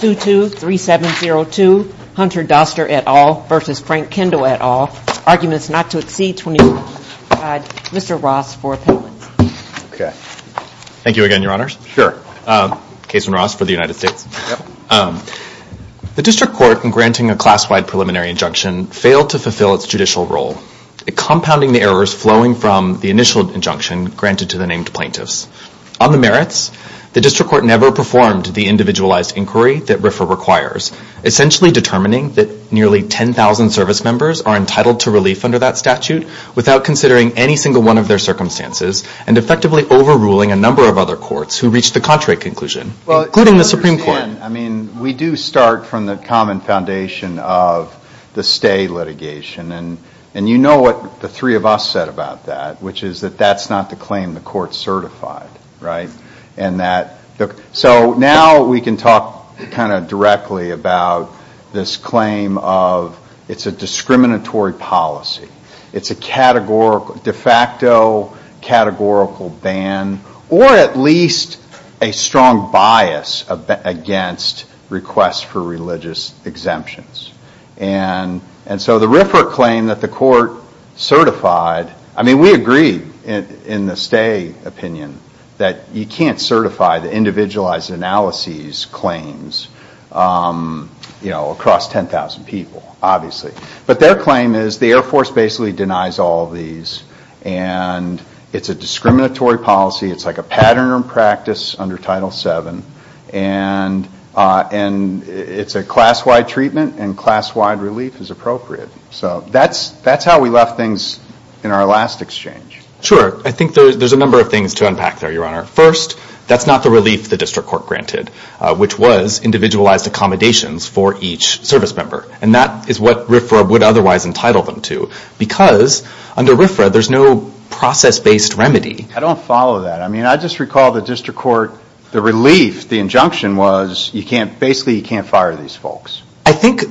223702 Hunter Doster et al. v. Frank Kendall et al. Arguments not to exceed 25. Mr. Ross for appellate. Thank you again, your honors. Case in Ross for the United States. The district court in granting a class-wide preliminary injunction failed to fulfill its judicial role, compounding the errors flowing from the initial injunction granted to the named plaintiffs. On the merits, the district court never performed the individualized inquiry that RFRA requires, essentially determining that nearly 10,000 service members are entitled to relief under that statute without considering any single one of their circumstances and effectively overruling a number of other courts who reached the contrary conclusion, including the Supreme Court. I mean, we do start from the common foundation of the stay litigation. And you know what the three of us said about that, which is that that's not the claim the court certified, right? So now we can talk kind of directly about this claim of it's a discriminatory policy. It's a de facto categorical ban, or at least a strong bias against requests for religious exemptions. And so the RFRA claim that the court certified, I mean, we agree in the stay opinion that you can't certify the individualized analyses claims, you know, across 10,000 people, obviously. But their claim is the Air Force basically denies all of these, and it's a discriminatory policy. It's like a pattern in practice under Title VII. And it's a class-wide treatment, and class-wide relief is appropriate. So that's how we left things in our last exchange. Sure. I think there's a number of things to unpack there, Your Honor. First, that's not the relief the district court granted, which was individualized accommodations for each service member. And that is what RFRA would otherwise entitle them to, because under RFRA there's no process-based remedy. I don't follow that. I mean, I just recall the district court, the relief, the injunction was, basically you can't fire these folks. I think,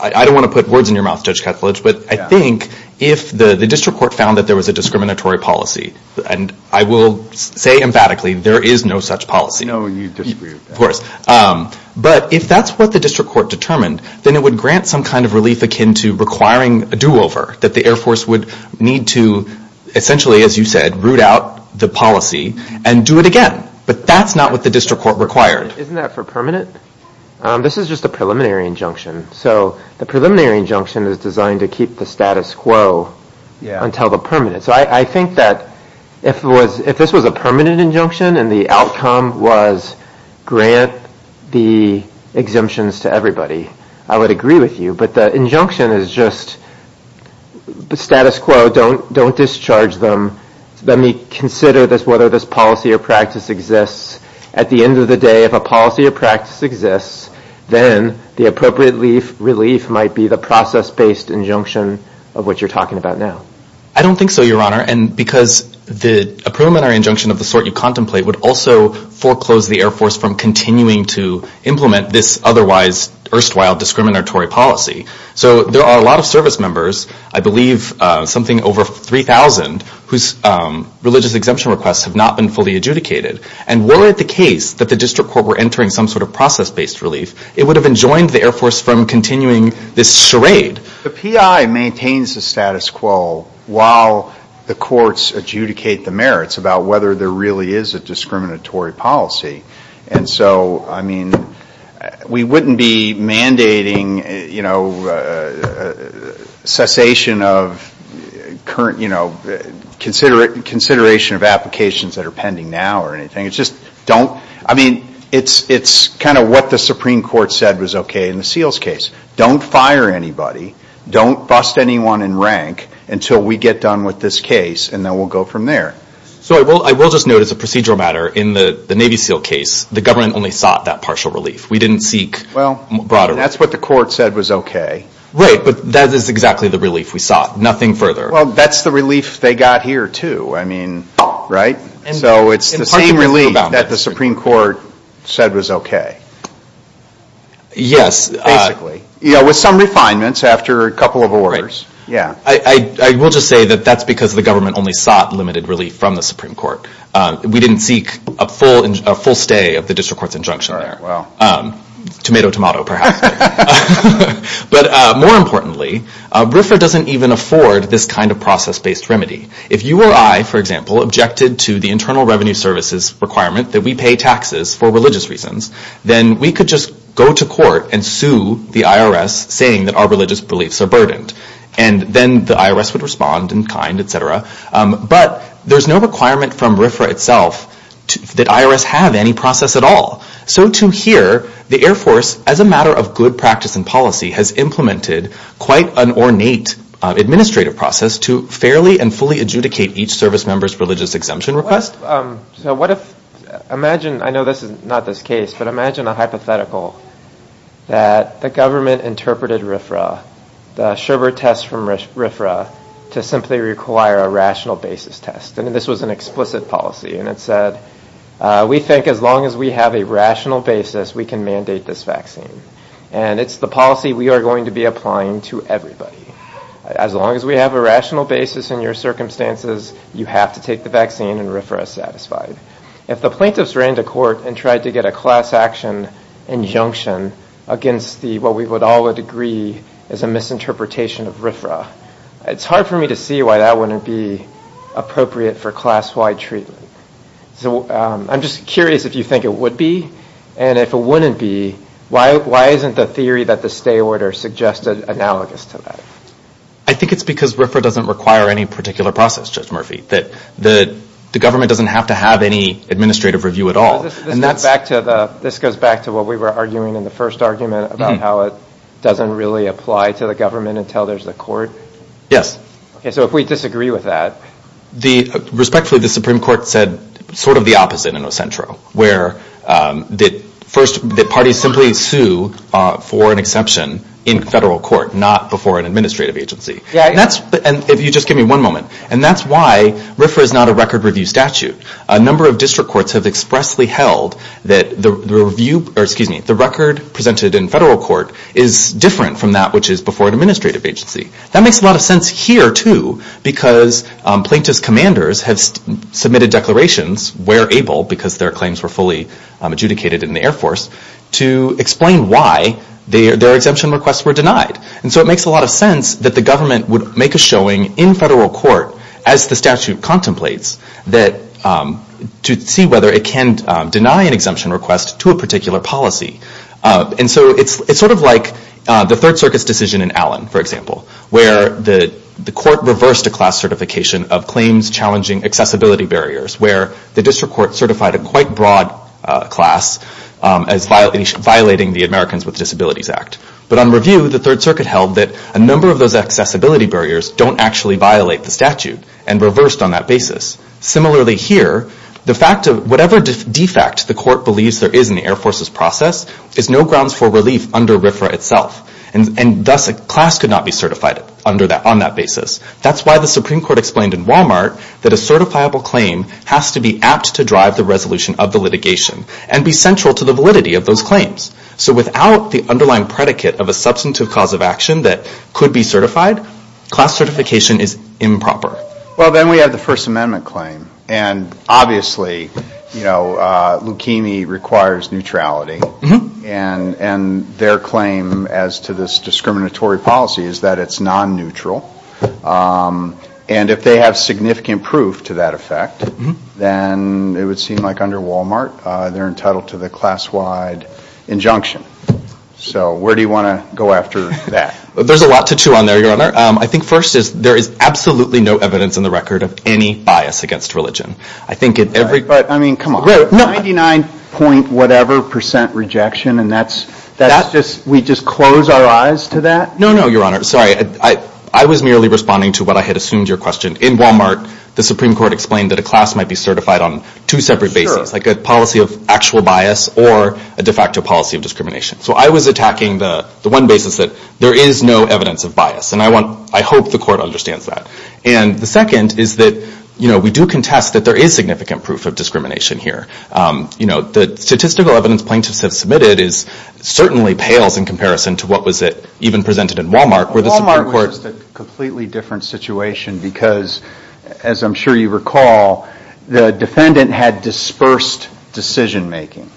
I don't want to put words in your mouth, Judge Ketledge, but I think if the district court found that there was a discriminatory policy, and I will say emphatically, there is no such policy. No, you disagree with that. Of course. But if that's what the district court determined, then it would grant some kind of relief akin to requiring a do-over, that the Air Force would need to essentially, as you said, root out the policy and do it again. But that's not what the district court required. Isn't that for permanent? This is just a preliminary injunction. So the preliminary injunction is designed to keep the status quo until the permanent. So I think that if this was a permanent injunction and the outcome was grant the exemptions to everybody, I would agree with you. But the injunction is just the status quo, don't discharge them. Let me consider this, whether this policy or practice exists. At the end of the day, if a policy or practice exists, then the appropriate relief might be the process-based injunction of what you're talking about now. I don't think so, Your Honor. And because the preliminary injunction of the sort you contemplate would also foreclose the Air Force from continuing to implement this otherwise erstwhile discriminatory policy. So there are a lot of service members, I believe something over 3,000, whose religious exemption requests have not been fully adjudicated. And were it the case that the district court were entering some sort of process-based relief, it would have enjoined the Air Force from continuing this charade. The PI maintains the status quo while the courts adjudicate the merits about whether there really is a discriminatory policy. And so, I mean, we wouldn't be mandating, you know, cessation of current, you know, consideration of applications that are pending now or anything. It's just don't, I mean, it's kind of what the Supreme Court said was okay in the Seals case. Don't fire anybody. Don't bust anyone in rank until we get done with this case, and then we'll go from there. So I will just note as a procedural matter, in the Navy Seal case, the government only sought that partial relief. We didn't seek broader relief. Well, that's what the court said was okay. Right, but that is exactly the relief we sought. Nothing further. Well, that's the relief they got here, too. I mean, right? So it's the same relief that the Supreme Court said was okay. Yes. Basically. Yeah, with some refinements after a couple of orders. Right. Yeah. I will just say that that's because the government only sought limited relief from the Supreme Court. We didn't seek a full stay of the district court's injunction there. All right, well. Tomato, tomato, perhaps. But more importantly, RFRA doesn't even afford this kind of process-based remedy. If you or I, for example, objected to the Internal Revenue Service's requirement that we pay taxes for religious reasons, then we could just go to court and sue the IRS saying that our religious beliefs are burdened. And then the IRS would respond in kind, et cetera. But there's no requirement from RFRA itself that IRS have any process at all. So to here, the Air Force, as a matter of good practice and policy, has implemented quite an ornate administrative process to fairly and fully adjudicate each service member's religious exemption request. So what if, imagine, I know this is not this case, but imagine a hypothetical that the government interpreted RFRA, the Sherbert test from RFRA, to simply require a rational basis test. And this was an explicit policy, and it said, we think as long as we have a rational basis, we can mandate this vaccine. And it's the policy we are going to be applying to everybody. As long as we have a rational basis in your circumstances, you have to take the vaccine and RFRA is satisfied. If the plaintiffs ran to court and tried to get a class action injunction against what we would all agree is a misinterpretation of RFRA, it's hard for me to see why that wouldn't be appropriate for class-wide treatment. So I'm just curious if you think it would be, and if it wouldn't be, why isn't the theory that the stay order suggested analogous to that? I think it's because RFRA doesn't require any particular process, Judge Murphy. The government doesn't have to have any administrative review at all. This goes back to what we were arguing in the first argument about how it doesn't really apply to the government until there's a court? Yes. Okay, so if we disagree with that. Respectfully, the Supreme Court said sort of the opposite in Ocentro, where the parties simply sue for an exception in federal court, not before an administrative agency. If you just give me one moment. And that's why RFRA is not a record review statute. A number of district courts have expressly held that the record presented in federal court is different from that which is before an administrative agency. That makes a lot of sense here, too, because plaintiff's commanders have submitted declarations where able, because their claims were fully adjudicated in the Air Force, to explain why their exemption requests were denied. And so it makes a lot of sense that the government would make a showing in federal court, as the statute contemplates, to see whether it can deny an exemption request to a particular policy. And so it's sort of like the Third Circuit's decision in Allen, for example, where the court reversed a class certification of claims challenging accessibility barriers, where the district court certified a quite broad class as violating the Americans with Disabilities Act. But on review, the Third Circuit held that a number of those accessibility barriers don't actually violate the statute and reversed on that basis. Similarly here, the fact of whatever defect the court believes there is in the Air Force's process is no grounds for relief under RFRA itself. And thus a class could not be certified on that basis. That's why the Supreme Court explained in Walmart that a certifiable claim has to be apt to drive the resolution of the litigation and be central to the validity of those claims. So without the underlying predicate of a substantive cause of action that could be certified, class certification is improper. Well, then we have the First Amendment claim. And obviously, you know, leukemia requires neutrality. And their claim as to this discriminatory policy is that it's non-neutral. And if they have significant proof to that effect, then it would seem like under Walmart, they're entitled to the class-wide injunction. So where do you want to go after that? There's a lot to chew on there, Your Honor. I think first is there is absolutely no evidence in the record of any bias against religion. But, I mean, come on. 99-point-whatever percent rejection, and we just close our eyes to that? No, no, Your Honor. Sorry. I was merely responding to what I had assumed your question. In Walmart, the Supreme Court explained that a class might be certified on two separate bases, like a policy of actual bias or a de facto policy of discrimination. So I was attacking the one basis that there is no evidence of bias. And I hope the Court understands that. And the second is that, you know, we do contest that there is significant proof of discrimination here. You know, the statistical evidence plaintiffs have submitted certainly pales in comparison to what was even presented in Walmart. Walmart was just a completely different situation because, as I'm sure you recall, the defendant had dispersed decision-making.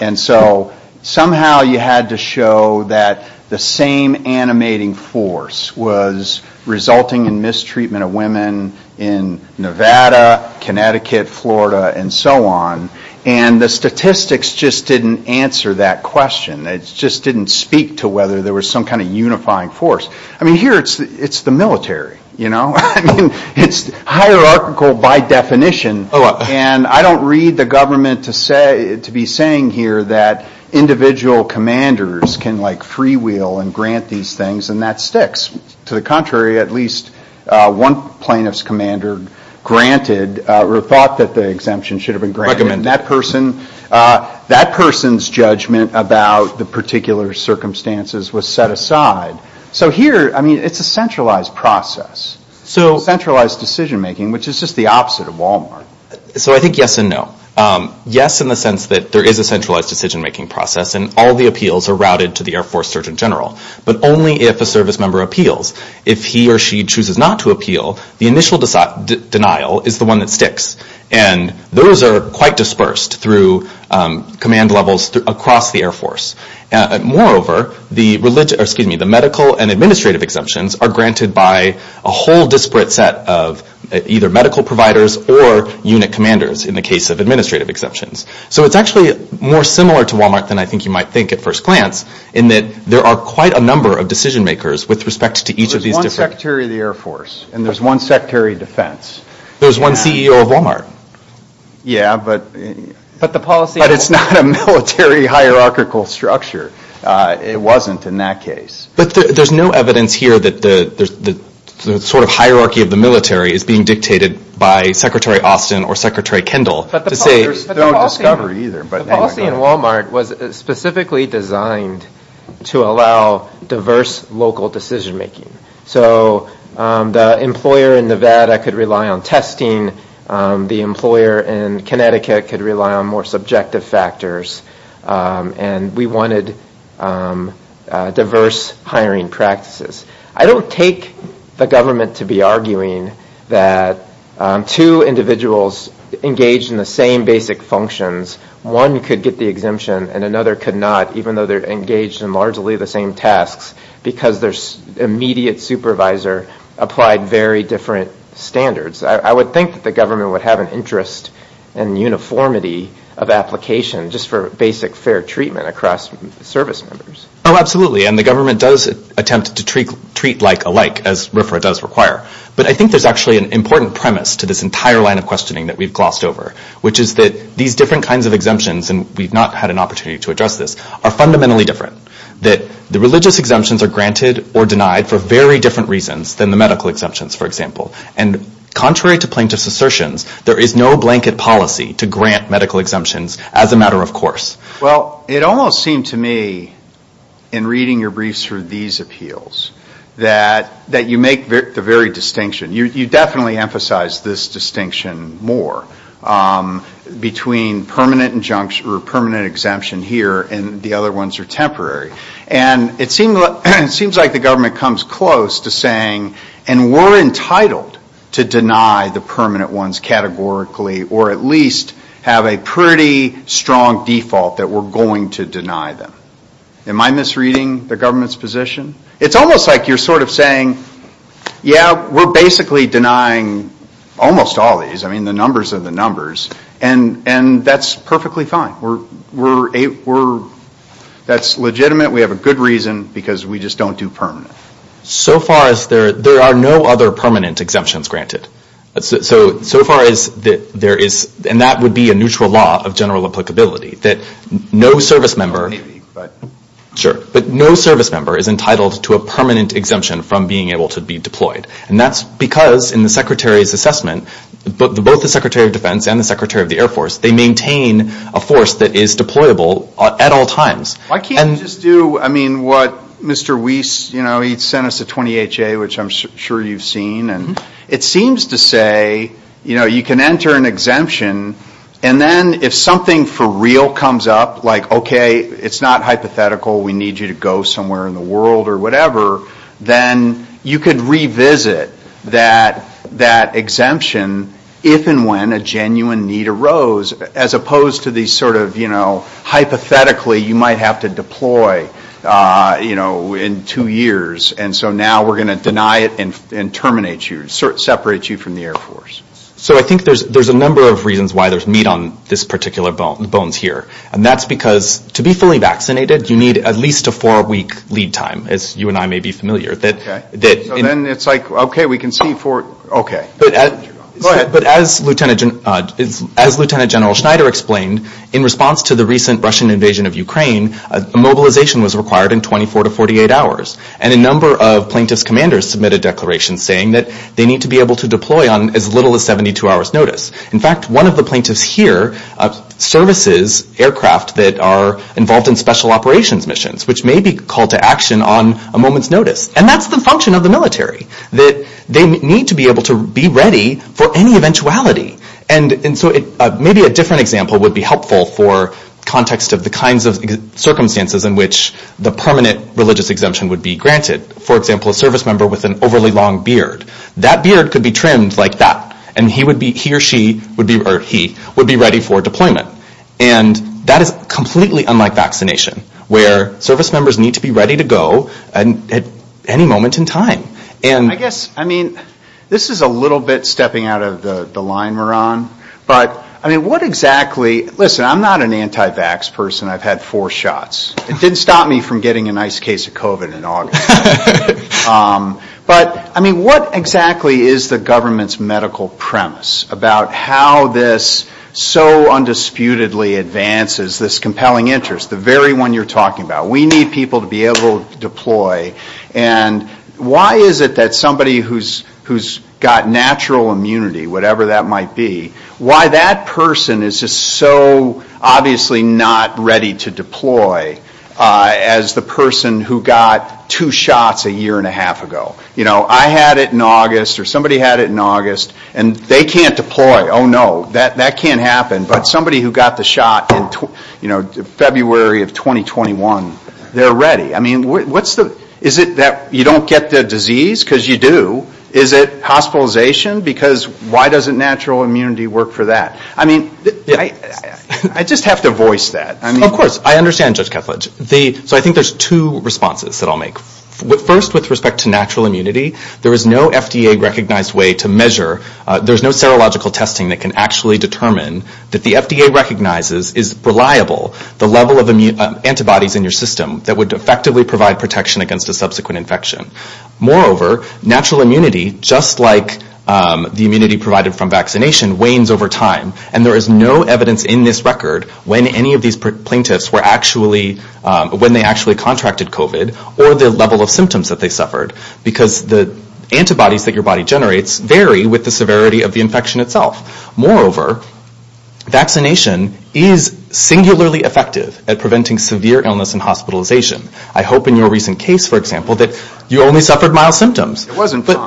And so somehow you had to show that the same animating force was resulting in mistreatment of women in Nevada, Connecticut, Florida, and so on. And the statistics just didn't answer that question. It just didn't speak to whether there was some kind of unifying force. I mean, here it's the military, you know? I mean, it's hierarchical by definition. And I don't read the government to be saying here that individual commanders can, like, freewheel and grant these things. And that sticks. To the contrary, at least one plaintiff's commander granted or thought that the exemption should have been granted. And that person's judgment about the particular circumstances was set aside. So here, I mean, it's a centralized process. It's centralized decision-making, which is just the opposite of Walmart. So I think yes and no. Yes, in the sense that there is a centralized decision-making process and all the appeals are routed to the Air Force Surgeon General. But only if a service member appeals. If he or she chooses not to appeal, the initial denial is the one that sticks. And those are quite dispersed through command levels across the Air Force. Moreover, the medical and administrative exemptions are granted by a whole disparate set of either medical providers or unit commanders in the case of administrative exceptions. So it's actually more similar to Walmart than I think you might think at first glance in that there are quite a number of decision-makers with respect to each of these different... There's one Secretary of the Air Force, and there's one Secretary of Defense. There's one CEO of Walmart. Yeah, but the policy... But it's not a military hierarchical structure. It wasn't in that case. But there's no evidence here that the sort of hierarchy of the military is being dictated by Secretary Austin or Secretary Kendall to say... There's no discovery either. But the policy in Walmart was specifically designed to allow diverse local decision-making. So the employer in Nevada could rely on testing. The employer in Connecticut could rely on more subjective factors. And we wanted diverse hiring practices. I don't take the government to be arguing that two individuals engaged in the same basic functions, one could get the exemption and another could not, even though they're engaged in largely the same tasks, because their immediate supervisor applied very different standards. I would think that the government would have an interest in uniformity of application just for basic, fair treatment across service members. Oh, absolutely, and the government does attempt to treat like alike, as RFRA does require. But I think there's actually an important premise to this entire line of questioning that we've glossed over, which is that these different kinds of exemptions, and we've not had an opportunity to address this, are fundamentally different, that the religious exemptions are granted or denied for very different reasons than the medical exemptions, for example. And contrary to plaintiffs' assertions, there is no blanket policy to grant medical exemptions as a matter of course. Well, it almost seemed to me, in reading your briefs through these appeals, that you make the very distinction. You definitely emphasize this distinction more, between permanent exemption here and the other ones are temporary. And it seems like the government comes close to saying, and we're entitled to deny the permanent ones categorically, or at least have a pretty strong default that we're going to deny them. Am I misreading the government's position? It's almost like you're sort of saying, yeah, we're basically denying almost all these. I mean, the numbers are the numbers. And that's perfectly fine. That's legitimate. We have a good reason, because we just don't do permanent. So far as there are no other permanent exemptions granted. So far as there is, and that would be a neutral law of general applicability, that no service member is entitled to a permanent exemption from being able to be deployed. And that's because, in the Secretary's assessment, both the Secretary of Defense and the Secretary of the Air Force, they maintain a force that is deployable at all times. Why can't you just do, I mean, what Mr. Weiss, you know, he sent us a 28-J, which I'm sure you've seen. And it seems to say, you know, you can enter an exemption, and then if something for real comes up, like, okay, it's not hypothetical, we need you to go somewhere in the world or whatever, then you could revisit that exemption if and when a genuine need arose, as opposed to these sort of, you know, you have to deploy, you know, in two years, and so now we're going to deny it and terminate you, separate you from the Air Force. So I think there's a number of reasons why there's meat on this particular bones here. And that's because, to be fully vaccinated, you need at least a four-week lead time, as you and I may be familiar. Okay. So then it's like, okay, we can see for, okay. Go ahead. But as Lieutenant General Schneider explained, in response to the recent Russian invasion of Ukraine, mobilization was required in 24 to 48 hours, and a number of plaintiffs' commanders submitted declarations saying that they need to be able to deploy on as little as 72 hours' notice. In fact, one of the plaintiffs here services aircraft that are involved in special operations missions, which may be called to action on a moment's notice. And that's the function of the military, that they need to be able to be ready for any eventuality. And so maybe a different example would be helpful for context of the kinds of circumstances in which the permanent religious exemption would be granted. For example, a service member with an overly long beard. That beard could be trimmed like that, and he or she would be ready for deployment. And that is completely unlike vaccination, where service members need to be ready to go at any moment in time. I guess, I mean, this is a little bit stepping out of the line we're on. But, I mean, what exactly, listen, I'm not an anti-vax person. I've had four shots. It didn't stop me from getting a nice case of COVID in August. But, I mean, what exactly is the government's medical premise about how this so undisputedly advances this compelling interest, the very one you're talking about? We need people to be able to deploy. And why is it that somebody who's got natural immunity, whatever that might be, why that person is just so obviously not ready to deploy as the person who got two shots a year and a half ago? You know, I had it in August, or somebody had it in August, and they can't deploy. Oh, no, that can't happen. But somebody who got the shot in February of 2021, they're ready. I mean, is it that you don't get the disease? Because you do. Is it hospitalization? Because why doesn't natural immunity work for that? I mean, I just have to voice that. Of course. I understand, Judge Kethledge. So I think there's two responses that I'll make. First, with respect to natural immunity, there is no FDA-recognized way to measure. There's no serological testing that can actually determine that the FDA recognizes is reliable the level of antibodies in your system that would effectively provide protection against a subsequent infection. Moreover, natural immunity, just like the immunity provided from vaccination, wanes over time, and there is no evidence in this record when any of these plaintiffs were actually, when they actually contracted COVID or the level of symptoms that they suffered, because the antibodies that your body generates vary with the severity of the infection itself. Moreover, vaccination is singularly effective at preventing severe illness and hospitalization. I hope in your recent case, for example, that you only suffered mild symptoms. It wasn't, but...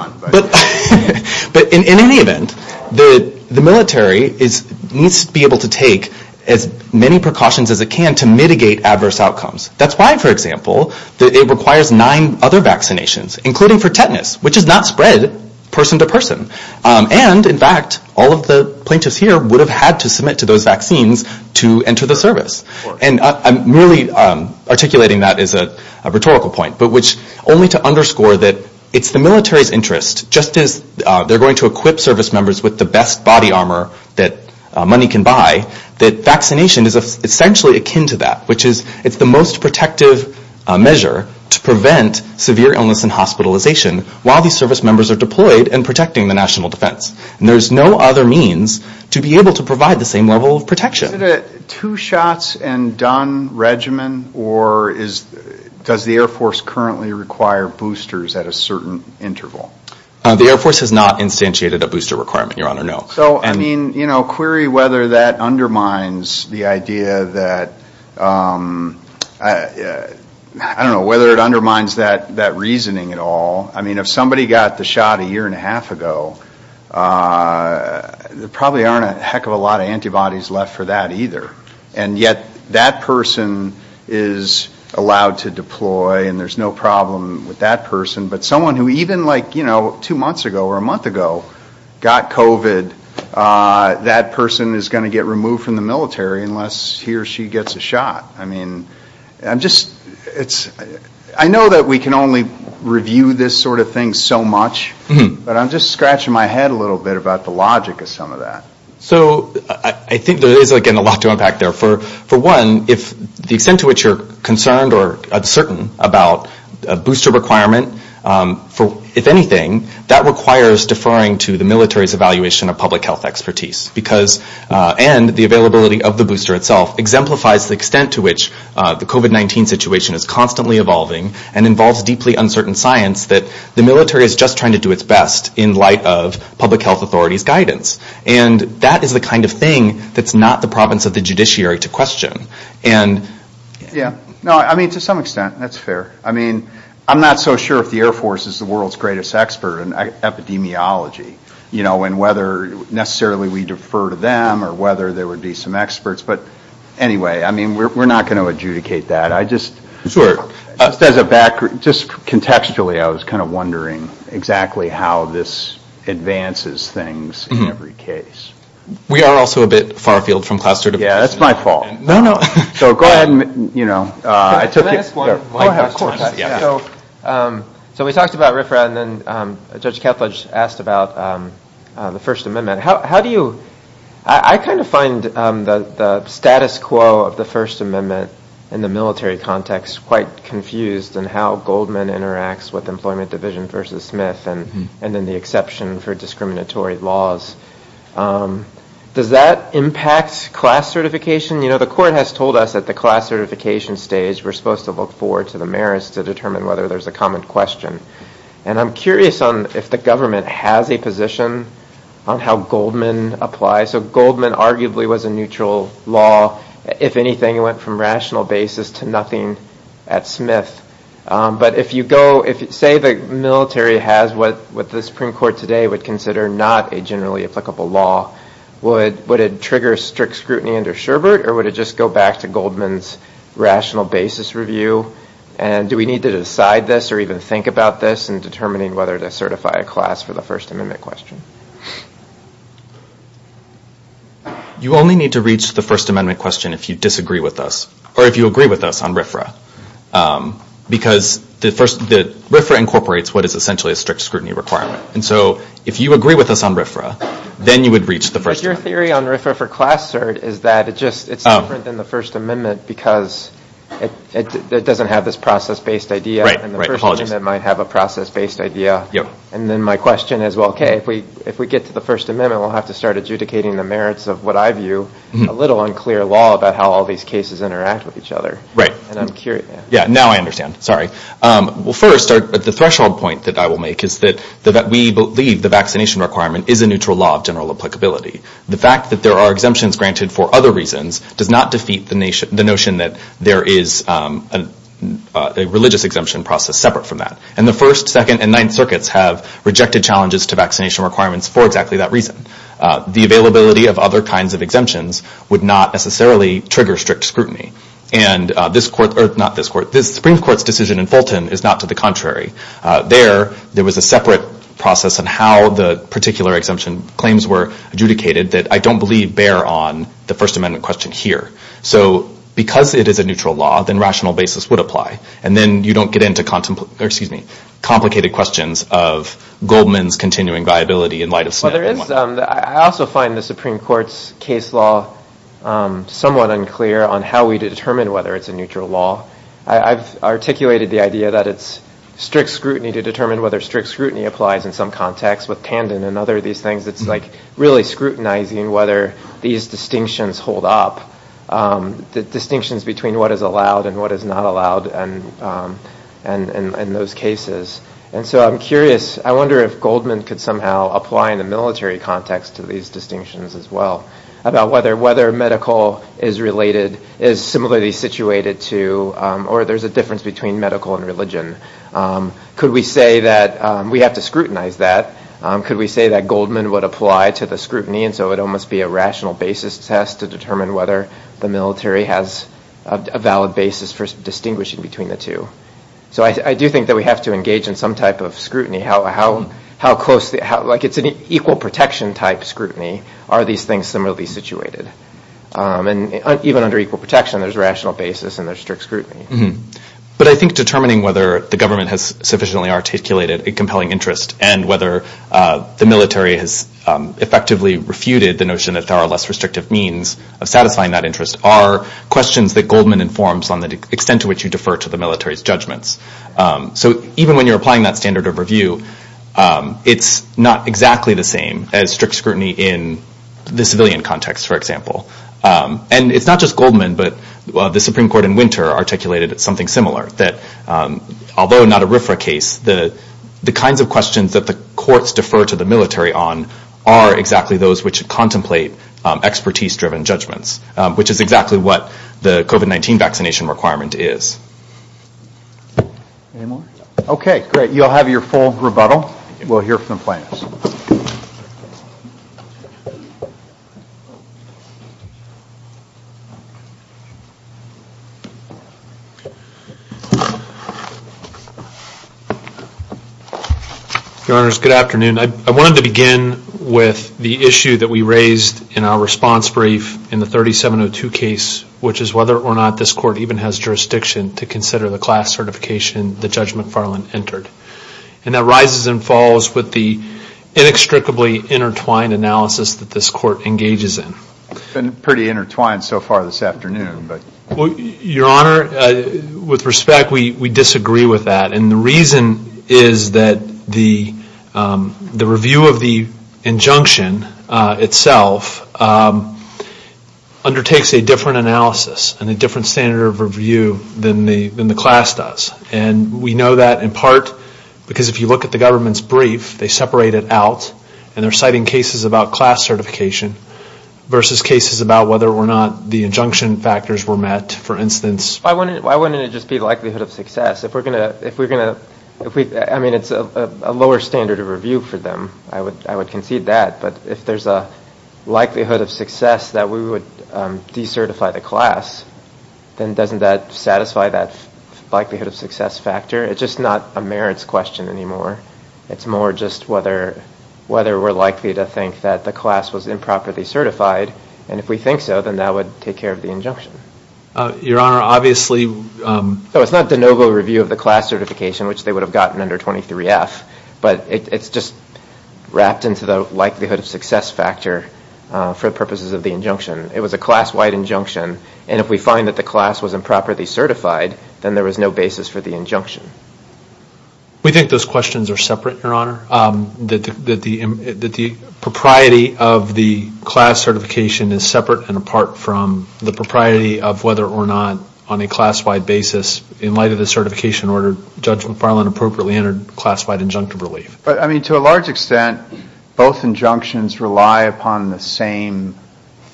But in any event, the military needs to be able to take as many precautions as it can to mitigate adverse outcomes. That's why, for example, it requires nine other vaccinations, including for tetanus, which is not spread person to person. And, in fact, all of the plaintiffs here would have had to submit to those vaccines to enter the service. And I'm merely articulating that as a rhetorical point, but which only to underscore that it's the military's interest, just as they're going to equip service members with the best body armor that money can buy, that vaccination is essentially akin to that, which is it's the most protective measure to prevent severe illness and hospitalization while these service members are deployed and protecting the national defense. And there's no other means to be able to provide the same level of protection. Is it a two shots and done regimen, or does the Air Force currently require boosters at a certain interval? The Air Force has not instantiated a booster requirement, Your Honor, no. So, I mean, query whether that undermines the idea that... I don't know whether it undermines that reasoning at all. I mean, if somebody got the shot a year and a half ago, there probably aren't a heck of a lot of antibodies left for that either. And yet that person is allowed to deploy and there's no problem with that person. But someone who even like, you know, two months ago or a month ago got COVID, that person is going to get removed from the military unless he or she gets a shot. I mean, I'm just... I know that we can only review this sort of thing so much, but I'm just scratching my head a little bit about the logic of some of that. So I think there is, again, a lot to unpack there. For one, if the extent to which you're concerned or uncertain about a booster requirement, if anything, that requires deferring to the military's evaluation of public health expertise and the availability of the booster itself exemplifies the extent to which the COVID-19 situation is constantly evolving and involves deeply uncertain science that the military is just trying to do its best in light of public health authorities' guidance. And that is the kind of thing that's not the province of the judiciary to question. And... Yeah, no, I mean, to some extent, that's fair. I mean, I'm not so sure if the Air Force is the world's greatest expert in epidemiology, you know, and whether necessarily we defer to them or whether there would be some experts. But anyway, I mean, we're not going to adjudicate that. I just... Just contextually, I was kind of wondering exactly how this advances things in every case. We are also a bit far-field from class certification. Yeah, that's my fault. No, no. Can I ask one? So we talked about RFRA, and then Judge Ketledge asked about the First Amendment. How do you... I kind of find the status quo of the First Amendment in the military context quite confused in how Goldman interacts with Employment Division v. Smith and in the exception for discriminatory laws. Does that impact class certification? You know, the court has told us at the class certification stage we're supposed to look forward to the merits to determine whether there's a common question. And I'm curious if the government has a position on how Goldman applies. So Goldman arguably was a neutral law. If anything, it went from rational basis to nothing at Smith. But if you go... Say the military has what the Supreme Court today would consider not a generally applicable law, would it trigger strict scrutiny under Sherbert, or would it just go back to Goldman's rational basis review? And do we need to decide this or even think about this in determining whether to certify a class for the First Amendment question? You only need to reach the First Amendment question if you disagree with us, or if you agree with us on RFRA. Because the RFRA incorporates what is essentially a strict scrutiny requirement. And so if you agree with us on RFRA, then you would reach the First Amendment question. But your theory on RFRA for class cert is that it's different than the First Amendment because it doesn't have this process-based idea, and the First Amendment might have a process-based idea. And then my question is, well, okay, if we get to the First Amendment, we'll have to start adjudicating the merits of what I view a little unclear law about how all these cases interact with each other. Right. And I'm curious... Yeah, now I understand. Sorry. Well, first, the threshold point that I will make is that we believe the vaccination requirement is a neutral law of general applicability. The fact that there are exemptions granted for other reasons does not defeat the notion that there is a religious exemption process separate from that. And the First, Second, and Ninth Circuits have rejected challenges to vaccination requirements for exactly that reason. The availability of other kinds of exemptions would not necessarily trigger strict scrutiny. And this Supreme Court's decision in Fulton is not to the contrary. There, there was a separate process on how the particular exemption claims were adjudicated that I don't believe bear on the First Amendment question here. So because it is a neutral law, then rational basis would apply. And then you don't get into complicated questions of Goldman's continuing viability in light of... Well, there is... I also find the Supreme Court's case law somewhat unclear on how we determine whether it's a neutral law. I've articulated the idea that it's strict scrutiny to determine whether strict scrutiny applies in some context with Tandon and other of these things. It's like really scrutinizing whether these distinctions hold up, the distinctions between what is allowed and what is not allowed in those cases. And so I'm curious. I wonder if Goldman could somehow apply in a military context to these distinctions as well about whether medical is related, is similarly situated to, or there's a difference between medical and religion. Could we say that we have to scrutinize that? Could we say that Goldman would apply to the scrutiny and so it almost be a rational basis test to determine whether the military has a valid basis for distinguishing between the two? So I do think that we have to engage in some type of scrutiny. How close... Like it's an equal protection type scrutiny. Are these things similarly situated? And even under equal protection, there's rational basis and there's strict scrutiny. But I think determining whether the government has sufficiently articulated a compelling interest and whether the military has effectively refuted the notion that there are less restrictive means of satisfying that interest are questions that Goldman informs on the extent to which you defer to the military's judgments. So even when you're applying that standard of review, it's not exactly the same as strict scrutiny in the civilian context, for example. And it's not just Goldman, but the Supreme Court in winter articulated something similar that although not a RFRA case, the kinds of questions that the courts defer to the military on are exactly those which contemplate expertise-driven judgments, which is exactly what the COVID-19 vaccination requirement is. Any more? Okay, great. You'll have your full rebuttal. We'll hear from the plaintiffs. Your Honors, good afternoon. I wanted to begin with the issue that we raised in our response brief in the 3702 case, which is whether or not this court even has jurisdiction to consider the class certification that Judge McFarland entered. And that rises and falls with the inextricably intertwined analysis that this court engages in. It's been pretty intertwined so far this afternoon. Your Honor, with respect, we disagree with that. And the reason is that the review of the injunction itself undertakes a different analysis and a different standard of review than the class does. And we know that in part because if you look at the government's brief, they separate it out and they're citing cases about class certification versus cases about whether or not the injunction factors were met. For instance... Why wouldn't it just be likelihood of success? If we're going to... I mean, it's a lower standard of review for them. I would concede that. But if there's a likelihood of success that we would decertify the class, then doesn't that satisfy that likelihood of success factor? It's just not a merits question anymore. It's more just whether we're likely to think that the class was improperly certified. And if we think so, then that would take care of the injunction. Your Honor, obviously... No, it's not de novo review of the class certification, which they would have gotten under 23F. But it's just wrapped into the likelihood of success factor for purposes of the injunction. It was a class-wide injunction. And if we find that the class was improperly certified, then there was no basis for the injunction. We think those questions are separate, Your Honor. That the propriety of the class certification is separate and apart from the propriety of whether or not on a class-wide basis, in light of the certification order, Judge McFarland appropriately entered class-wide injunctive relief. But, I mean, to a large extent, both injunctions rely upon the same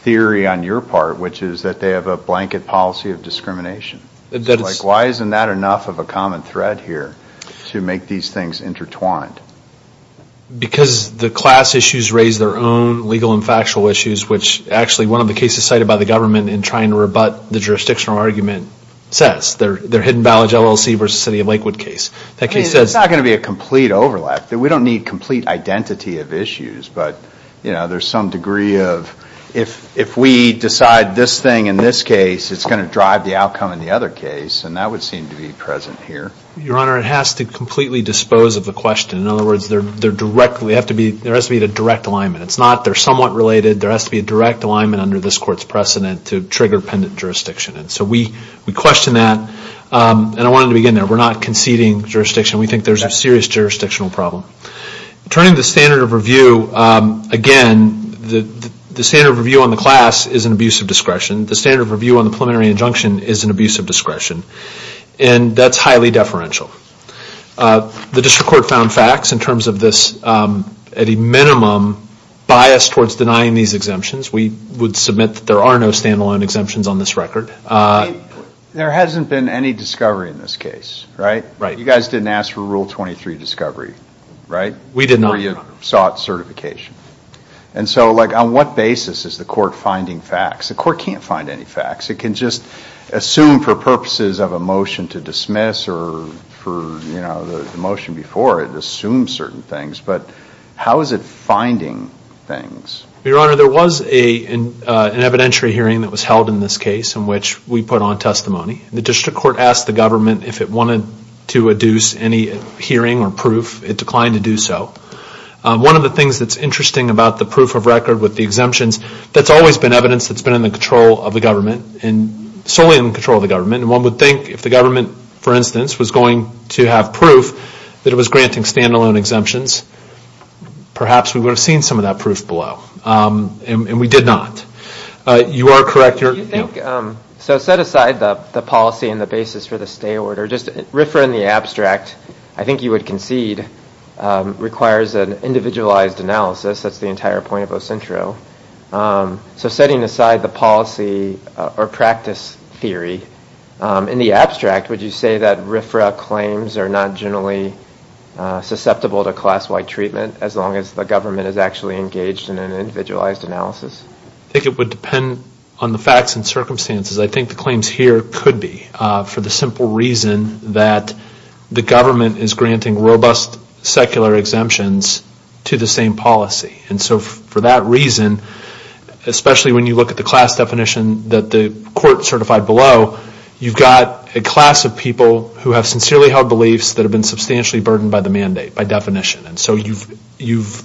theory on your part, which is that they have a blanket policy of discrimination. Like, why isn't that enough of a common thread here to make these things intertwined? Because the class issues raise their own legal and factual issues, which actually one of the cases cited by the government in trying to rebut the jurisdictional argument says. That's their Hidden Vallage LLC versus the City of Lakewood case. That case says... I mean, it's not going to be a complete overlap. We don't need complete identity of issues. But, you know, there's some degree of if we decide this thing in this case, it's going to drive the outcome in the other case. And that would seem to be present here. Your Honor, it has to completely dispose of the question. In other words, there has to be a direct alignment. It's not, they're somewhat related. There has to be a direct alignment under this court's precedent to trigger pendent jurisdiction. And so we question that. And I wanted to begin there. We're not conceding jurisdiction. We think there's a serious jurisdictional problem. Turning to standard of review, again, the standard of review on the class is an abuse of discretion. The standard of review on the preliminary injunction is an abuse of discretion. And that's highly deferential. The district court found facts in terms of this at a minimum bias towards denying these exemptions. We would submit that there are no stand-alone exemptions on this record. There hasn't been any discovery in this case, right? Right. You guys didn't ask for Rule 23 discovery, right? We did not. Or you sought certification. And so, like, on what basis is the court finding facts? The court can't find any facts. It can just assume for purposes of a motion to dismiss or for, you know, the motion before, it assumes certain things. But how is it finding things? Your Honor, there was an evidentiary hearing that was held in this case in which we put on testimony. The district court asked the government if it wanted to adduce any hearing or proof. It declined to do so. One of the things that's interesting about the proof of record with the exemptions, that's always been evidence that's been in the control of the government and solely in the control of the government. And one would think if the government, for instance, was going to have proof that it was granting stand-alone exemptions, perhaps we would have seen some of that proof below. And we did not. You are correct, Your Honor. Do you think... So set aside the policy and the basis for the stay order. Just RFRA in the abstract, I think you would concede, requires an individualized analysis. That's the entire point of OSINTRO. So setting aside the policy or practice theory, in the abstract, would you say that RFRA claims are not generally susceptible to class-wide treatment as long as the government is actually engaged in an individualized analysis? I think it would depend on the facts and circumstances. I think the claims here could be for the simple reason that the government is granting robust secular exemptions to the same policy. And so for that reason, especially when you look at the class definition that the court certified below, you've got a class of people who have sincerely held beliefs that have been substantially burdened by the mandate, by definition. And so you've,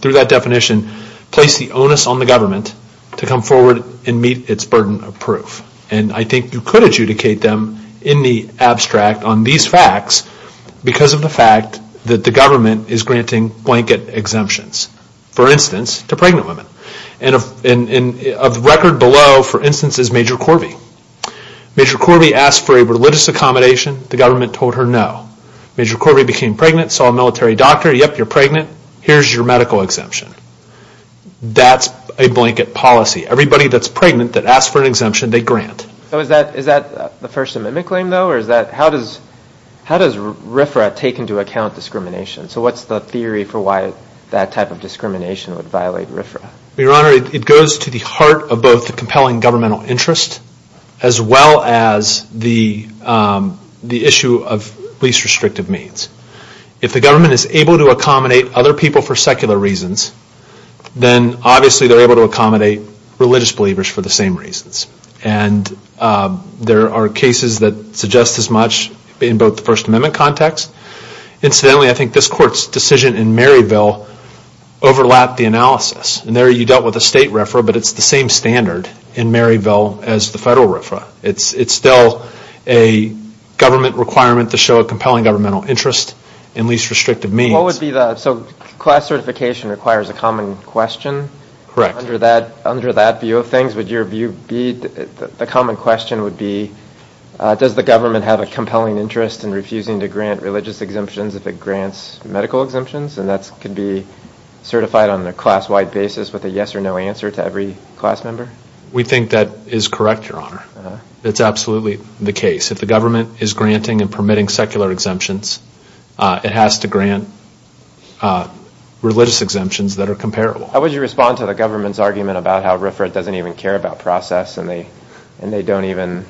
through that definition, placed the onus on the government to come forward and meet its burden of proof. And I think you could adjudicate them in the abstract on these facts because of the fact that the government is granting blanket exemptions, for instance, to pregnant women. And of record below, for instance, is Major Corby. Major Corby asked for a religious accommodation. The government told her no. Major Corby became pregnant, saw a military doctor. Yep, you're pregnant. Here's your medical exemption. That's a blanket policy. Everybody that's pregnant that asks for an exemption, they grant. So is that the First Amendment claim, though? Or is that, how does RFRA take into account discrimination? So what's the theory for why that type of discrimination would violate RFRA? Your Honor, it goes to the heart of both the compelling governmental interest as well as the issue of least restrictive means. If the government is able to accommodate other people for secular reasons, then obviously they're able to accommodate religious believers for the same reasons. And there are cases that suggest as much in both the First Amendment context. Incidentally, I think this Court's decision in Maryville overlapped the analysis. And there you dealt with a state RFRA, but it's the same standard in Maryville as the federal RFRA. It's still a government requirement to show a compelling governmental interest and least restrictive means. So class certification requires a common question? Correct. Under that view of things, would your view be the common question would be, does the government have a compelling interest in refusing to grant religious exemptions if it grants medical exemptions? And that could be certified on a class-wide basis with a yes or no answer to every class member? We think that is correct, Your Honor. It's absolutely the case. If the government is granting and permitting secular exemptions, it has to grant religious exemptions that are comparable. How would you respond to the government's argument about how RFRA doesn't even care about process and they don't even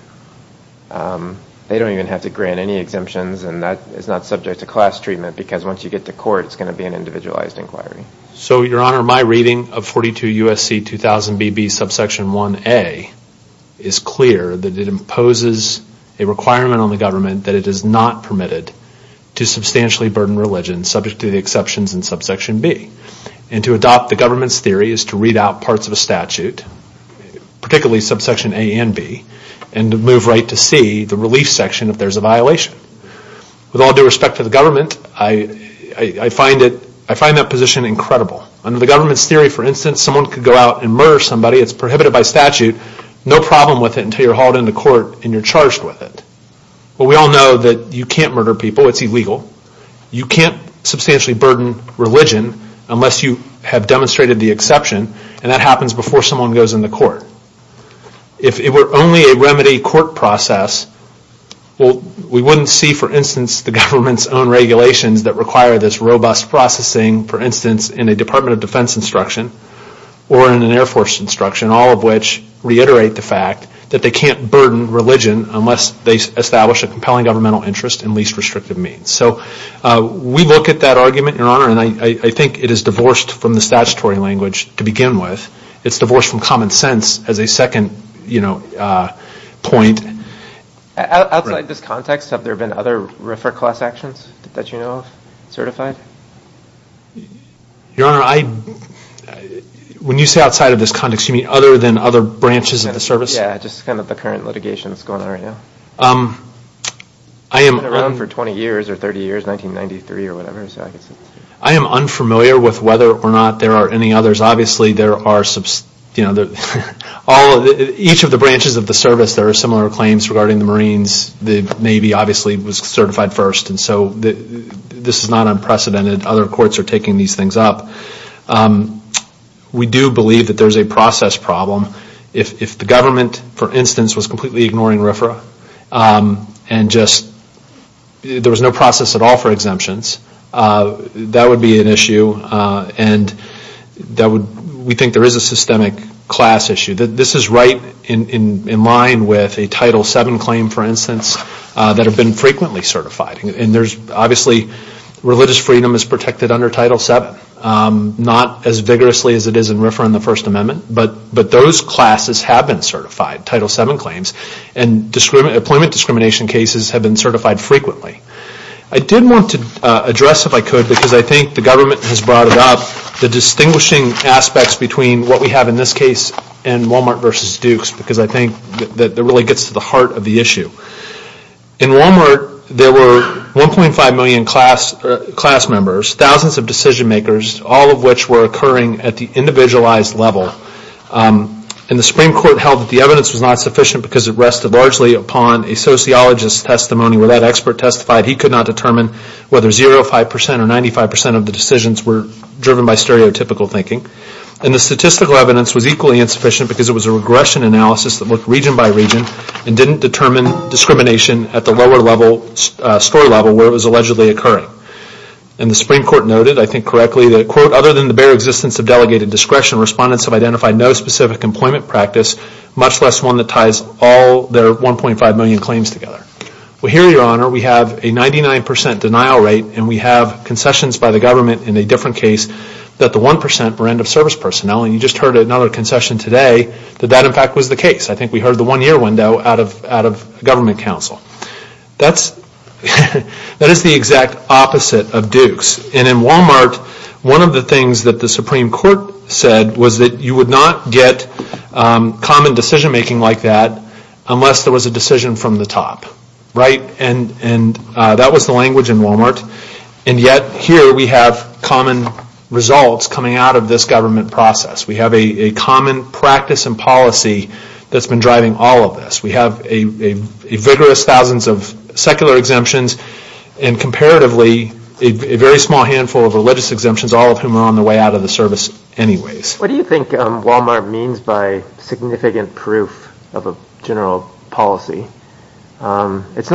have to grant any exemptions and that is not subject to class treatment because once you get to court it's going to be an individualized inquiry? So, Your Honor, my reading of 42 U.S.C. 2000BB subsection 1A is clear that it imposes a requirement on the government that it is not permitted to substantially burden religion subject to the exceptions in subsection B. And to adopt the government's theory is to read out parts of a statute, particularly subsection A and B, and to move right to C, the relief section, if there's a violation. With all due respect to the government, I find that position incredible. Under the government's theory, for instance, someone could go out and murder somebody, it's prohibited by statute, no problem with it until you're hauled into court and you're charged with it. But we all know that you can't murder people, it's illegal. You can't substantially burden religion unless you have demonstrated the exception, and that happens before someone goes into court. If it were only a remedy court process, we wouldn't see, for instance, the government's own regulations that require this robust processing, for instance, in a Department of Defense instruction or in an Air Force instruction, all of which reiterate the fact that they can't burden religion unless they establish a compelling governmental interest in least restrictive means. So we look at that argument, Your Honor, and I think it is divorced from the statutory language to begin with. It's divorced from common sense as a second point. Outside this context, have there been other RFRA class actions that you know of, certified? Your Honor, when you say outside of this context, you mean other than other branches of the service? Yeah, just kind of the current litigation that's going on right now? I've been around for 20 years or 30 years, 1993 or whatever, so I can see. I am unfamiliar with whether or not there are any others. Obviously, there are, you know, each of the branches of the service, there are similar claims regarding the Marines. The Navy, obviously, was certified first, and so this is not unprecedented. Other courts are taking these things up. We do believe that there's a process problem. If the government, for instance, was completely ignoring RFRA and just, there was no process at all for exemptions, that would be an issue, and that would, we think there is a systemic class issue. This is right in line with a Title VII claim, for instance, that have been frequently certified. And there's, obviously, religious freedom is protected under Title VII, not as vigorously as it is in RFRA and the First Amendment, but those classes have been certified, Title VII claims, and employment discrimination cases have been certified frequently. I did want to address, if I could, because I think the government has brought it up, the distinguishing aspects between what we have in this case and Walmart versus Duke's because I think that really gets to the heart of the issue. In Walmart, there were 1.5 million class members, thousands of decision makers, all of which were occurring at the individualized level, and the Supreme Court held that the evidence was not sufficient because it rested largely upon a sociologist's testimony where that expert testified he could not determine whether 0.5% or 95% of the decisions were driven by stereotypical thinking. And the statistical evidence was equally insufficient because it was a regression analysis that looked region by region and didn't determine discrimination at the lower level, story level, where it was allegedly occurring. And the Supreme Court noted, I think correctly, that, quote, other than the bare existence of delegated discretion, respondents have identified no specific employment practice, much less one that ties all their 1.5 million claims together. Well, here, Your Honor, we have a 99% denial rate and we have concessions by the government in a different case that the 1% were end-of-service personnel and you just heard another concession today that that, in fact, was the case. I think we heard the one-year window out of government counsel. That is the exact opposite of Duke's. And in Walmart, one of the things that the Supreme Court said was that you would not get common decision-making like that unless there was a decision from the top. Right? And that was the language in Walmart. And yet, here, we have common results coming out of this government process. We have a common practice and policy that's been driving all of this. We have a vigorous thousands of secular exemptions and, comparatively, a very small handful of religious exemptions, all of whom are on the way out of the service anyways. What do you think Walmart means by significant proof of a general policy? It's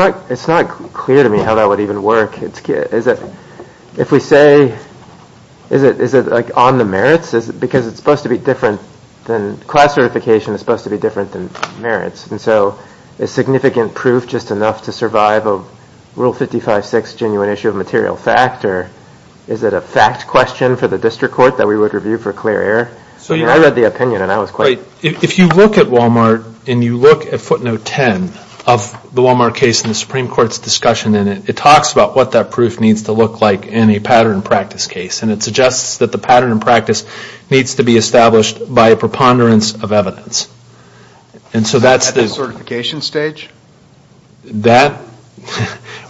not clear to me how that would even work. If we say, is it on the merits? Because it's supposed to be different than... Class certification is supposed to be different than merits. And so, is significant proof just enough to survive a Rule 55.6 genuine issue of material fact? Or is it a fact question for the district court that we would review for clear error? I read the opinion and I was quite... If you look at Walmart and you look at footnote 10 of the Walmart case and the Supreme Court's discussion in it, it talks about what that proof needs to look like in a pattern practice case. And it suggests that the pattern practice needs to be established by a preponderance of evidence. And so, that's the... At the certification stage? That...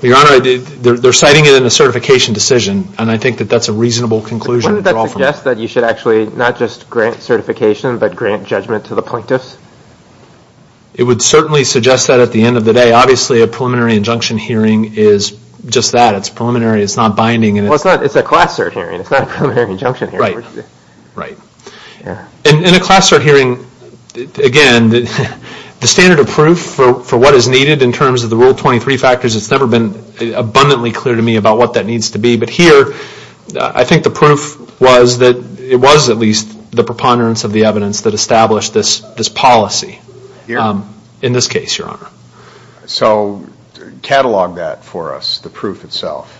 Your Honor, they're citing it in a certification decision and I think that that's a reasonable conclusion. Wouldn't that suggest that you should actually not just grant certification, but grant judgment to the plaintiffs? It would certainly suggest that at the end of the day. Obviously, a preliminary injunction hearing is just that. It's preliminary. It's not binding. Well, it's not. It's a class cert hearing. It's not a preliminary injunction hearing. Right. Right. In a class cert hearing, again, the standard of proof for what is needed in terms of the Rule 23 factors has never been abundantly clear to me about what that needs to be. But here, I think the proof was that it was at least the preponderance of the evidence that established this policy. Here? In this case, Your Honor. So, catalog that for us, the proof itself.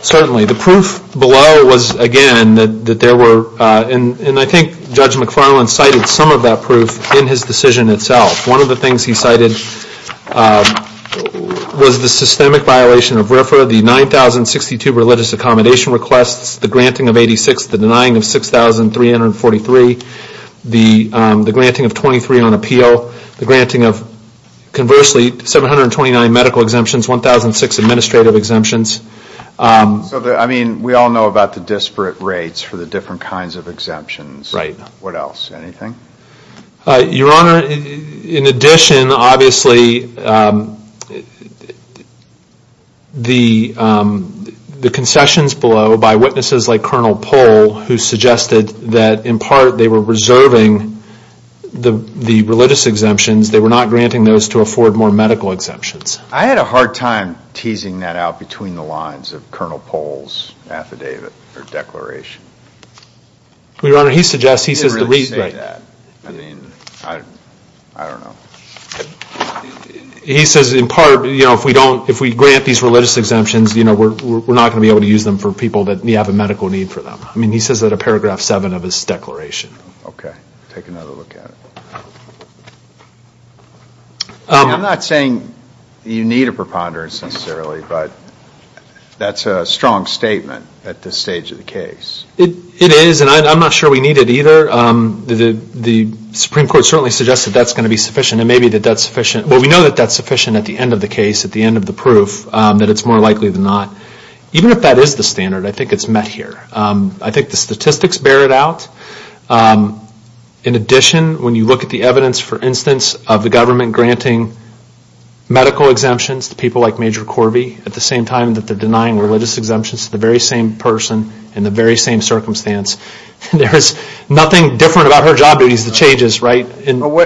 Certainly. The proof below was, again, that there were, and I think in his decision itself. One of the things he cited was the systemic violation of RFRA, the 9062 Religious Accommodation Rule, which is the granting of 86, the denying of 6,343, the granting of 23 on appeal, the granting of, conversely, 729 medical exemptions, 1,006 administrative exemptions. So, I mean, we all know about the disparate rates for the different kinds of exemptions. Right. What else? Anything? Your Honor, in addition, obviously, the concessions below by witnesses like Colonel Pohl, who suggested that, in part, they were reserving the religious exemptions. They were not granting those to afford more medical exemptions. I had a hard time teasing that out between the lines of Colonel Pohl's affidavit or declaration. Your Honor, he suggests, he says, the reason, I mean, I don't know. He says, in part, you know, if we grant these religious exemptions, we're not going to be able to use them for people that have a medical need for them. I mean, he says that in paragraph seven of his declaration. Okay. Take another look at it. I'm not saying you need a preponderance necessarily, but that's a strong statement at this stage of the case. It is, and I'm not sure we need it either. The Supreme Court certainly suggests that that's going to be sufficient. And maybe that's sufficient. Well, we know that that's sufficient at the end of the case, at the end of the proof, that it's more likely than not. Even if that is the standard, I think it's met here. I think the statistics bear it out. In addition, when you look at the evidence, for instance, of the government granting medical exemptions to people like Major Corby at the same time that they're denying religious exemptions to the very same person in the very same circumstance, there's nothing different about her job or the duties that she has.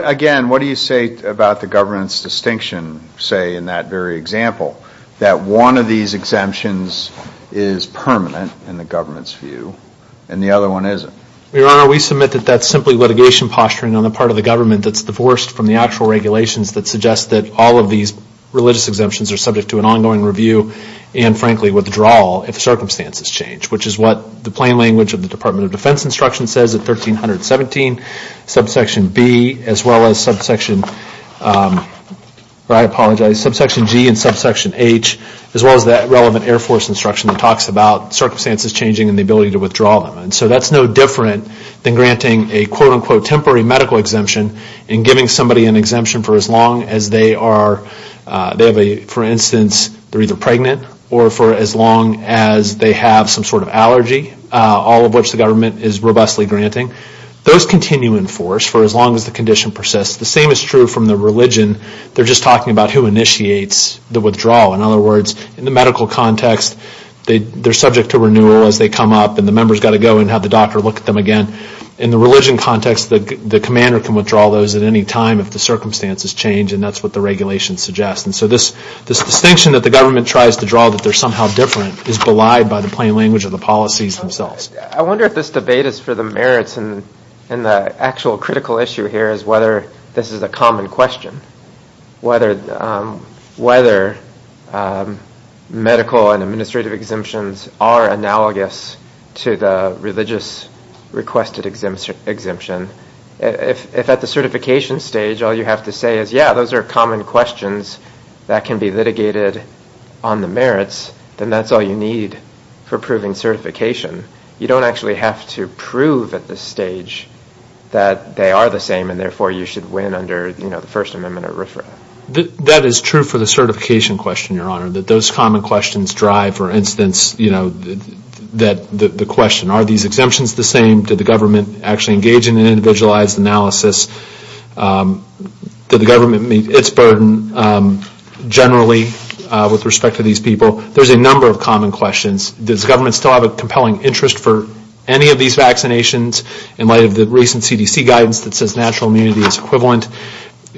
Again, what do you say about the government's distinction, say, in that very example, that one of these exemptions is permanent in the government's view and the other one isn't? We submit that that's simply litigation posturing on the part of the government that's divorced from the actual regulations that suggest that all of these religious exemptions are subject to an ongoing review and frankly withdrawal if circumstances change, which is what the plain language of the Department of Defense instruction says at 1317 subsection B, as well as subsection G and subsection H, as well as that relevant Air Force instruction that talks about circumstances changing and the ability to withdraw them. So that's no different than granting a quote-unquote medical exemption and granting those continuing force for as long as the condition persists. The same is true from the religion. They're just talking about who initiates the withdrawal. In other words, in the medical context, they're subject to renewal as they grow. And the actual critical issue here is whether this is a common question, whether medical and administrative exemptions are analogous to the religious requested exemption. If at the certification stage all you have to say is, yeah, those are common questions that you should win under the first amendment or RFRA. That is true for the certification question, your honor, that those common questions drive, for instance, the question, are these exemptions the same? Did the government actually engage in an individualized analysis? Did the government meet its obligations to that these exemptions are equally common?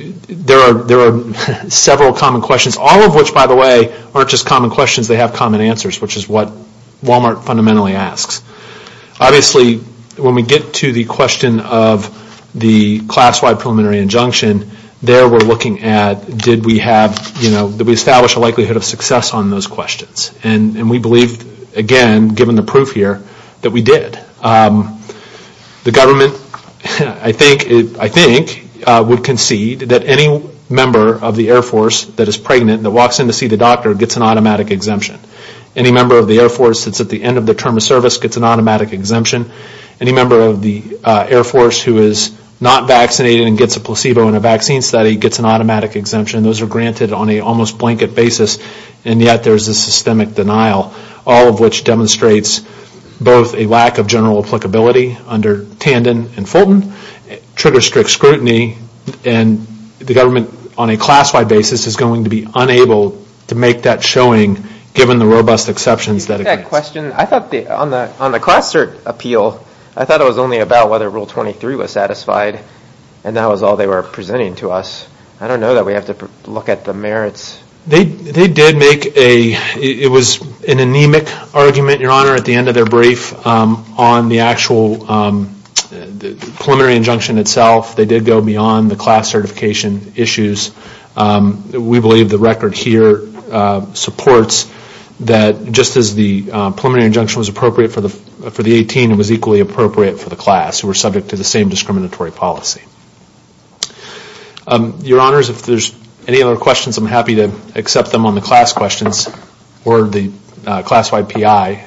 And there are several common questions, all of which, by the way, are not just common questions, they have common answers, which is what Wal-Mart fundamentally asks. Obviously, when we get to the question of the class-wide preliminary injunction, there we are looking at did we establish a likelihood of success on those questions. And we believe, again, given the proof here, that we did. The government, I think, would concede that any member of the Air Force that is pregnant and walks in to see the doctor gets an automatic exemption. Any member of the Air Force at the end of the term of service gets an automatic exemption. Any member of the Air Force term of service gets an automatic exemption. And the government is going to be unable to make that showing given the robust exceptions. I thought it was only about whether rule 23 was or not. It was an anemic argument, Your Honor, at the end of their brief on the actual preliminary injunction itself. They did go beyond the class certification issues. We believe the record here supports that just as the preliminary injunction was appropriate for the class who were subject to the same discriminatory policy. Your Honor, if there are any other questions, I am happy to accept them on the class questions or the class-wide PI.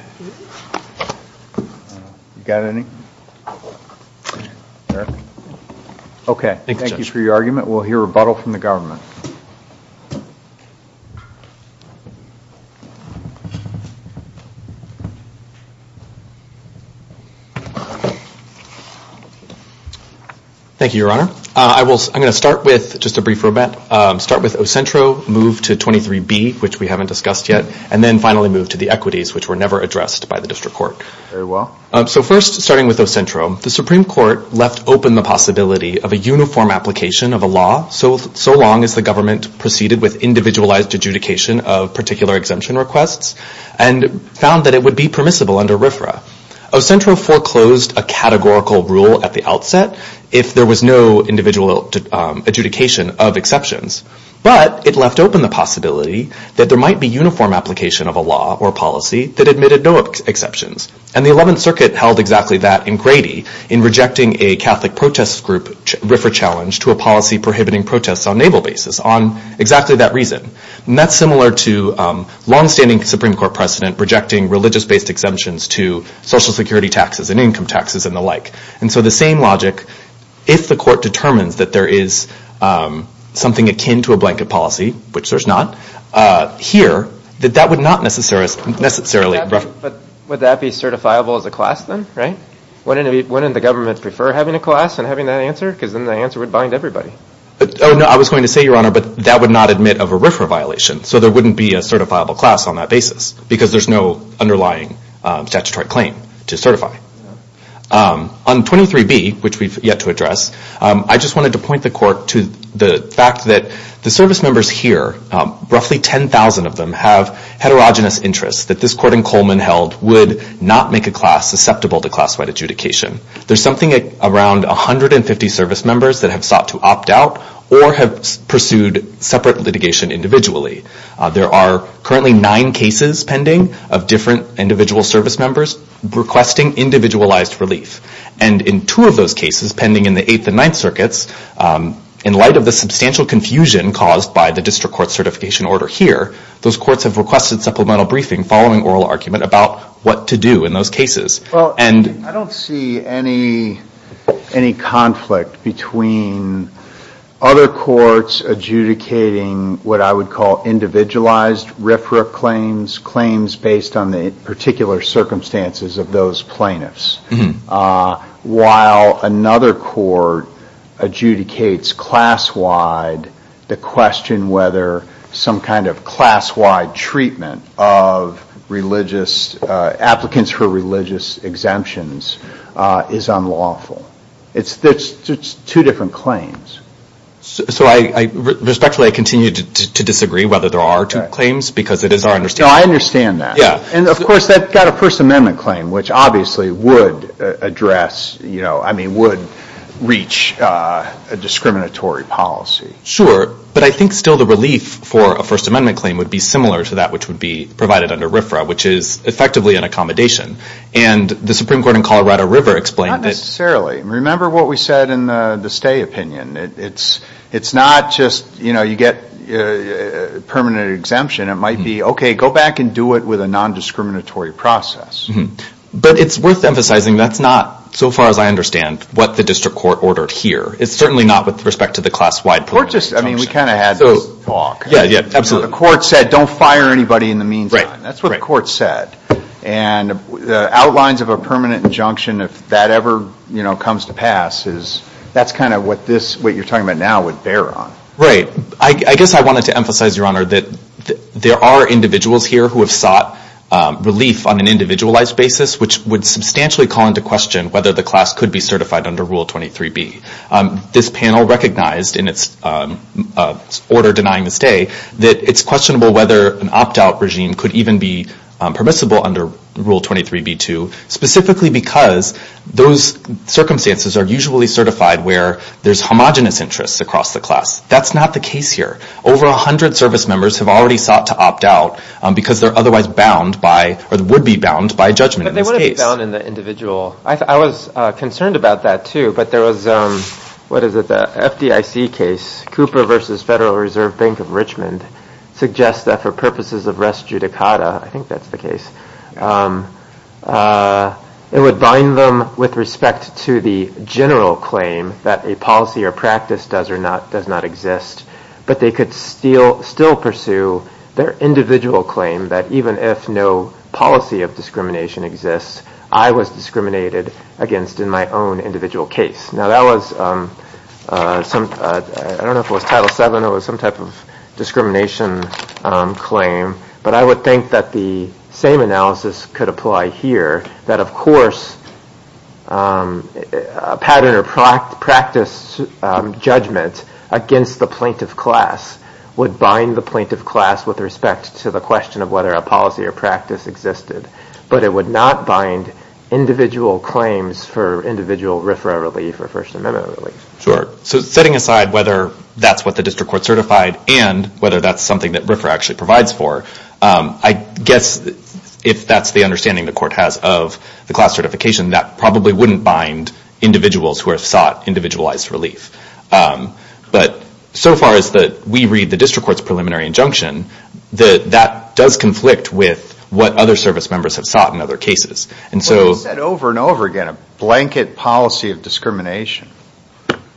Thank you for your argument. We will hear rebuttal from the government. Thank you, Your Honor. I'm going to start with Ocentro, move to 23B, which we haven't discussed yet, and then finally move to the equities, which were never addressed by the District Court. First, starting with Ocentro, the Supreme Court left open the possibility of a uniform application of a law so long as the government proceeded with individualized adjudication of particular exemption requests and found that it would be permissible under RFRA. Ocentro foreclosed a categorical rule at the outset if there was no individual adjudication of exceptions, but it left open the possibility that there might be uniform application of a law or policy that admitted no exceptions. And the 11th Circuit held exactly that in Grady in rejecting a Catholic protest group RFRA challenge to a policy prohibiting protests on naval bases. On exactly that reason. And that's similar to longstanding Supreme Court precedent rejecting religious based exemptions to social security taxes and income taxes and the like. And so the same logic, if the Court determines that there is something akin to a blanket policy, which there's not, here, that that would not necessarily be certifiable as a class then, right? Wouldn't the government prefer having a class and having that answer? Because then the answer would bind everybody. Oh, no, I was going to say, the fact that the service members here, roughly 10,000 of them, have heterogeneous interests that this Court in Coleman held would not make a class susceptible to class-wide adjudication. There's something around 150 service members that have sought to opt out or have pursued separate litigation individually. There are cases where, outside of the substantial confusion caused by the district court certification order here, those courts have requested supplemental briefing following oral argument about what to do in those cases. Well, I don't see any conflict between other courts adjudicating what I would call individualized RIFRA claims, claims based on the particular circumstances of those plaintiffs, while another court adjudicates class-wide the question whether some kind of class-wide treatment of religious applicants for religious exemptions is unlawful. It's two different claims. So, respectfully, I continue to disagree whether there are two claims because it is our understanding. No, I understand that. And, of course, that got a First Amendment claim, which obviously would address, I mean, would reach a discriminatory policy. Sure, but I think still the relief for a First Amendment claim would be similar to that which would be provided under the Supreme Court in Colorado River. Not necessarily. Remember what we said in the stay opinion. It's not just, you know, you get permanent exemption. It might be, okay, go back and do it with a nondiscriminatory process. But it's worth saying that the outlines of a permanent injunction, if that ever comes to pass, that's kind of what you're talking about now would bear on. Right. I guess I wanted to emphasize, Your Honor, that there are individuals here who have sought relief on an individualized basis, which would be case that you're referring to, specifically because those circumstances are usually certified where there's homogenous interests across the class. That's not the case here. Over 100 service members have already sought to opt out because they're otherwise bound by or would be bound in this case. But they would be bound in the individual. I was concerned about that, too, but there was, what is it, the FDIC case, Cooper versus Federal Reserve Bank of Richmond suggests that for their individual claim, that even if no policy of discrimination exists, I was discriminated against in my own individual case. Now, that was some, I don't know if it was Title 7, it was some type of discrimination claim, but I would think that the would bind the plaintiff class with respect to the question of whether a policy or practice existed, but it would not bind individual claims for individual RFRA relief or First Amendment relief. So, setting aside whether that's what the District Court certified and whether that's something that RFRA actually provides for, I guess if that's the understanding the Court has of the class certification, that probably wouldn't bind individuals who have sought individualized relief. But so far as that we read the District Court's preliminary injunction, that does conflict with what other service members have sought in other cases. And so... Well, he said over and over again, a blanket policy of discrimination.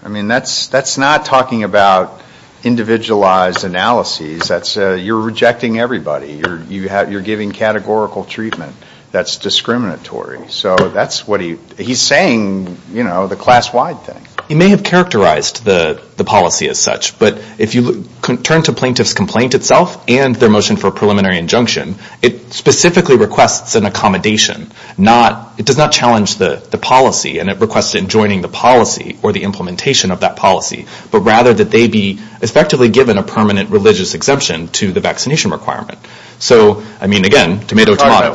I mean, that's not talking about individualized analyses. That's, you're rejecting everybody. You're giving categorical treatment that's discriminatory. So, that's what he, he's saying, you know, the class-wide thing. He may have characterized the policy as such. But if you turn to plaintiff's complaint itself and their motion for preliminary injunction, it specifically requests an accommodation, not, it does not challenge the policy and it requests joining the policy or implementation of that policy, but rather that they be effectively given a permanent religious exemption to the requirement. So, I mean, again, tomato, tomato.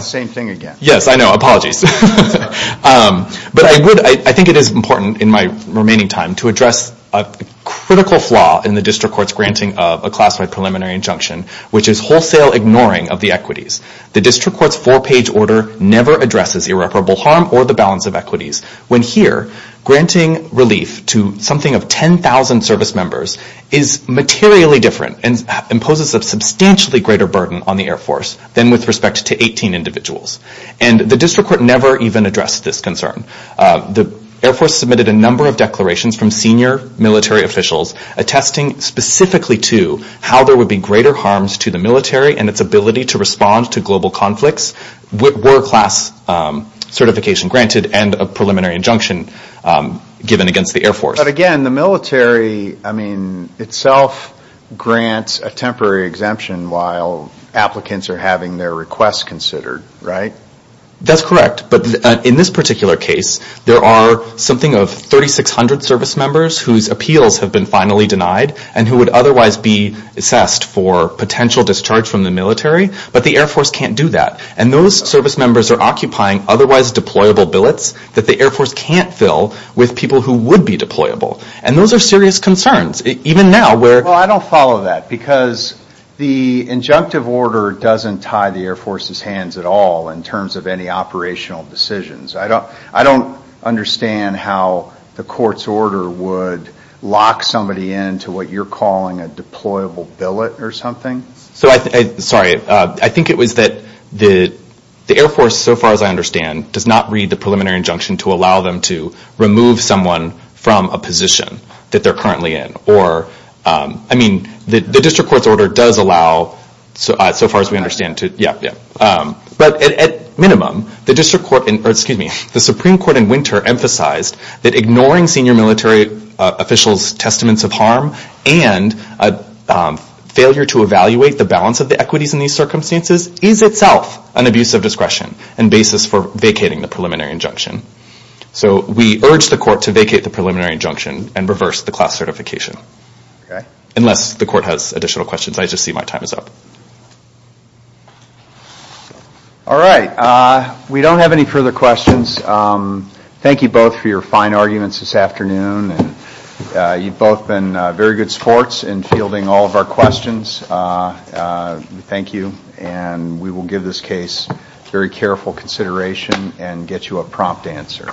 Yes, I know, apologies. But I would, I think it is important in my remaining time to address a critical flaw in the district court's granting of a class-wide preliminary injunction, which is wholesale ignoring of the equities. The district court's four-page order never addresses irreparable harm or the balance of equities when here granting relief to something of 10,000 service members is materially different and imposes a substantially greater burden on the Air Force than with respect to 18 individuals. And the district court never even addressed this concern. The Air Force submitted a number of declarations from senior military officials attesting specifically to how there would be greater harms to the military and its ability to respond to global conflicts were class certification granted and a preliminary injunction given against the Air Force. But again, the military, I mean, itself grants a temporary exemption while applicants are having their requests considered, right? That's correct. But in this particular case, there are something of 3,600 service members whose appeals have been finally denied and who would otherwise be assessed for potential discharge from the military, but the Air Force can't do that. And those service members are occupying otherwise deployable billets that the Air Force can't fill with people who would be deployable. And those are serious concerns, even now. Well, I don't follow that, because the injunctive order doesn't tie the Air Force's hands at all in terms of any operational decisions. I don't understand how the court's order would lock somebody into what you're calling a deployable billet or something. Sorry. I think it was that the Air Force, so far as I understand, does not read the preliminary injunction to allow them to remove someone from a position that they're currently in. I mean, the district court's order does allow, so far as we understand. But at minimum, the Supreme Court in Winter emphasized that ignoring senior military officials' testaments of harm and failure to evaluate the balance of responsibility for vacating the preliminary injunction. So we urge the court to vacate the preliminary injunction and reverse the class certification. Unless the court has additional questions. I just see my time is up. All right. We don't have any further questions. Thank you both for your attention and get you a prompt answer.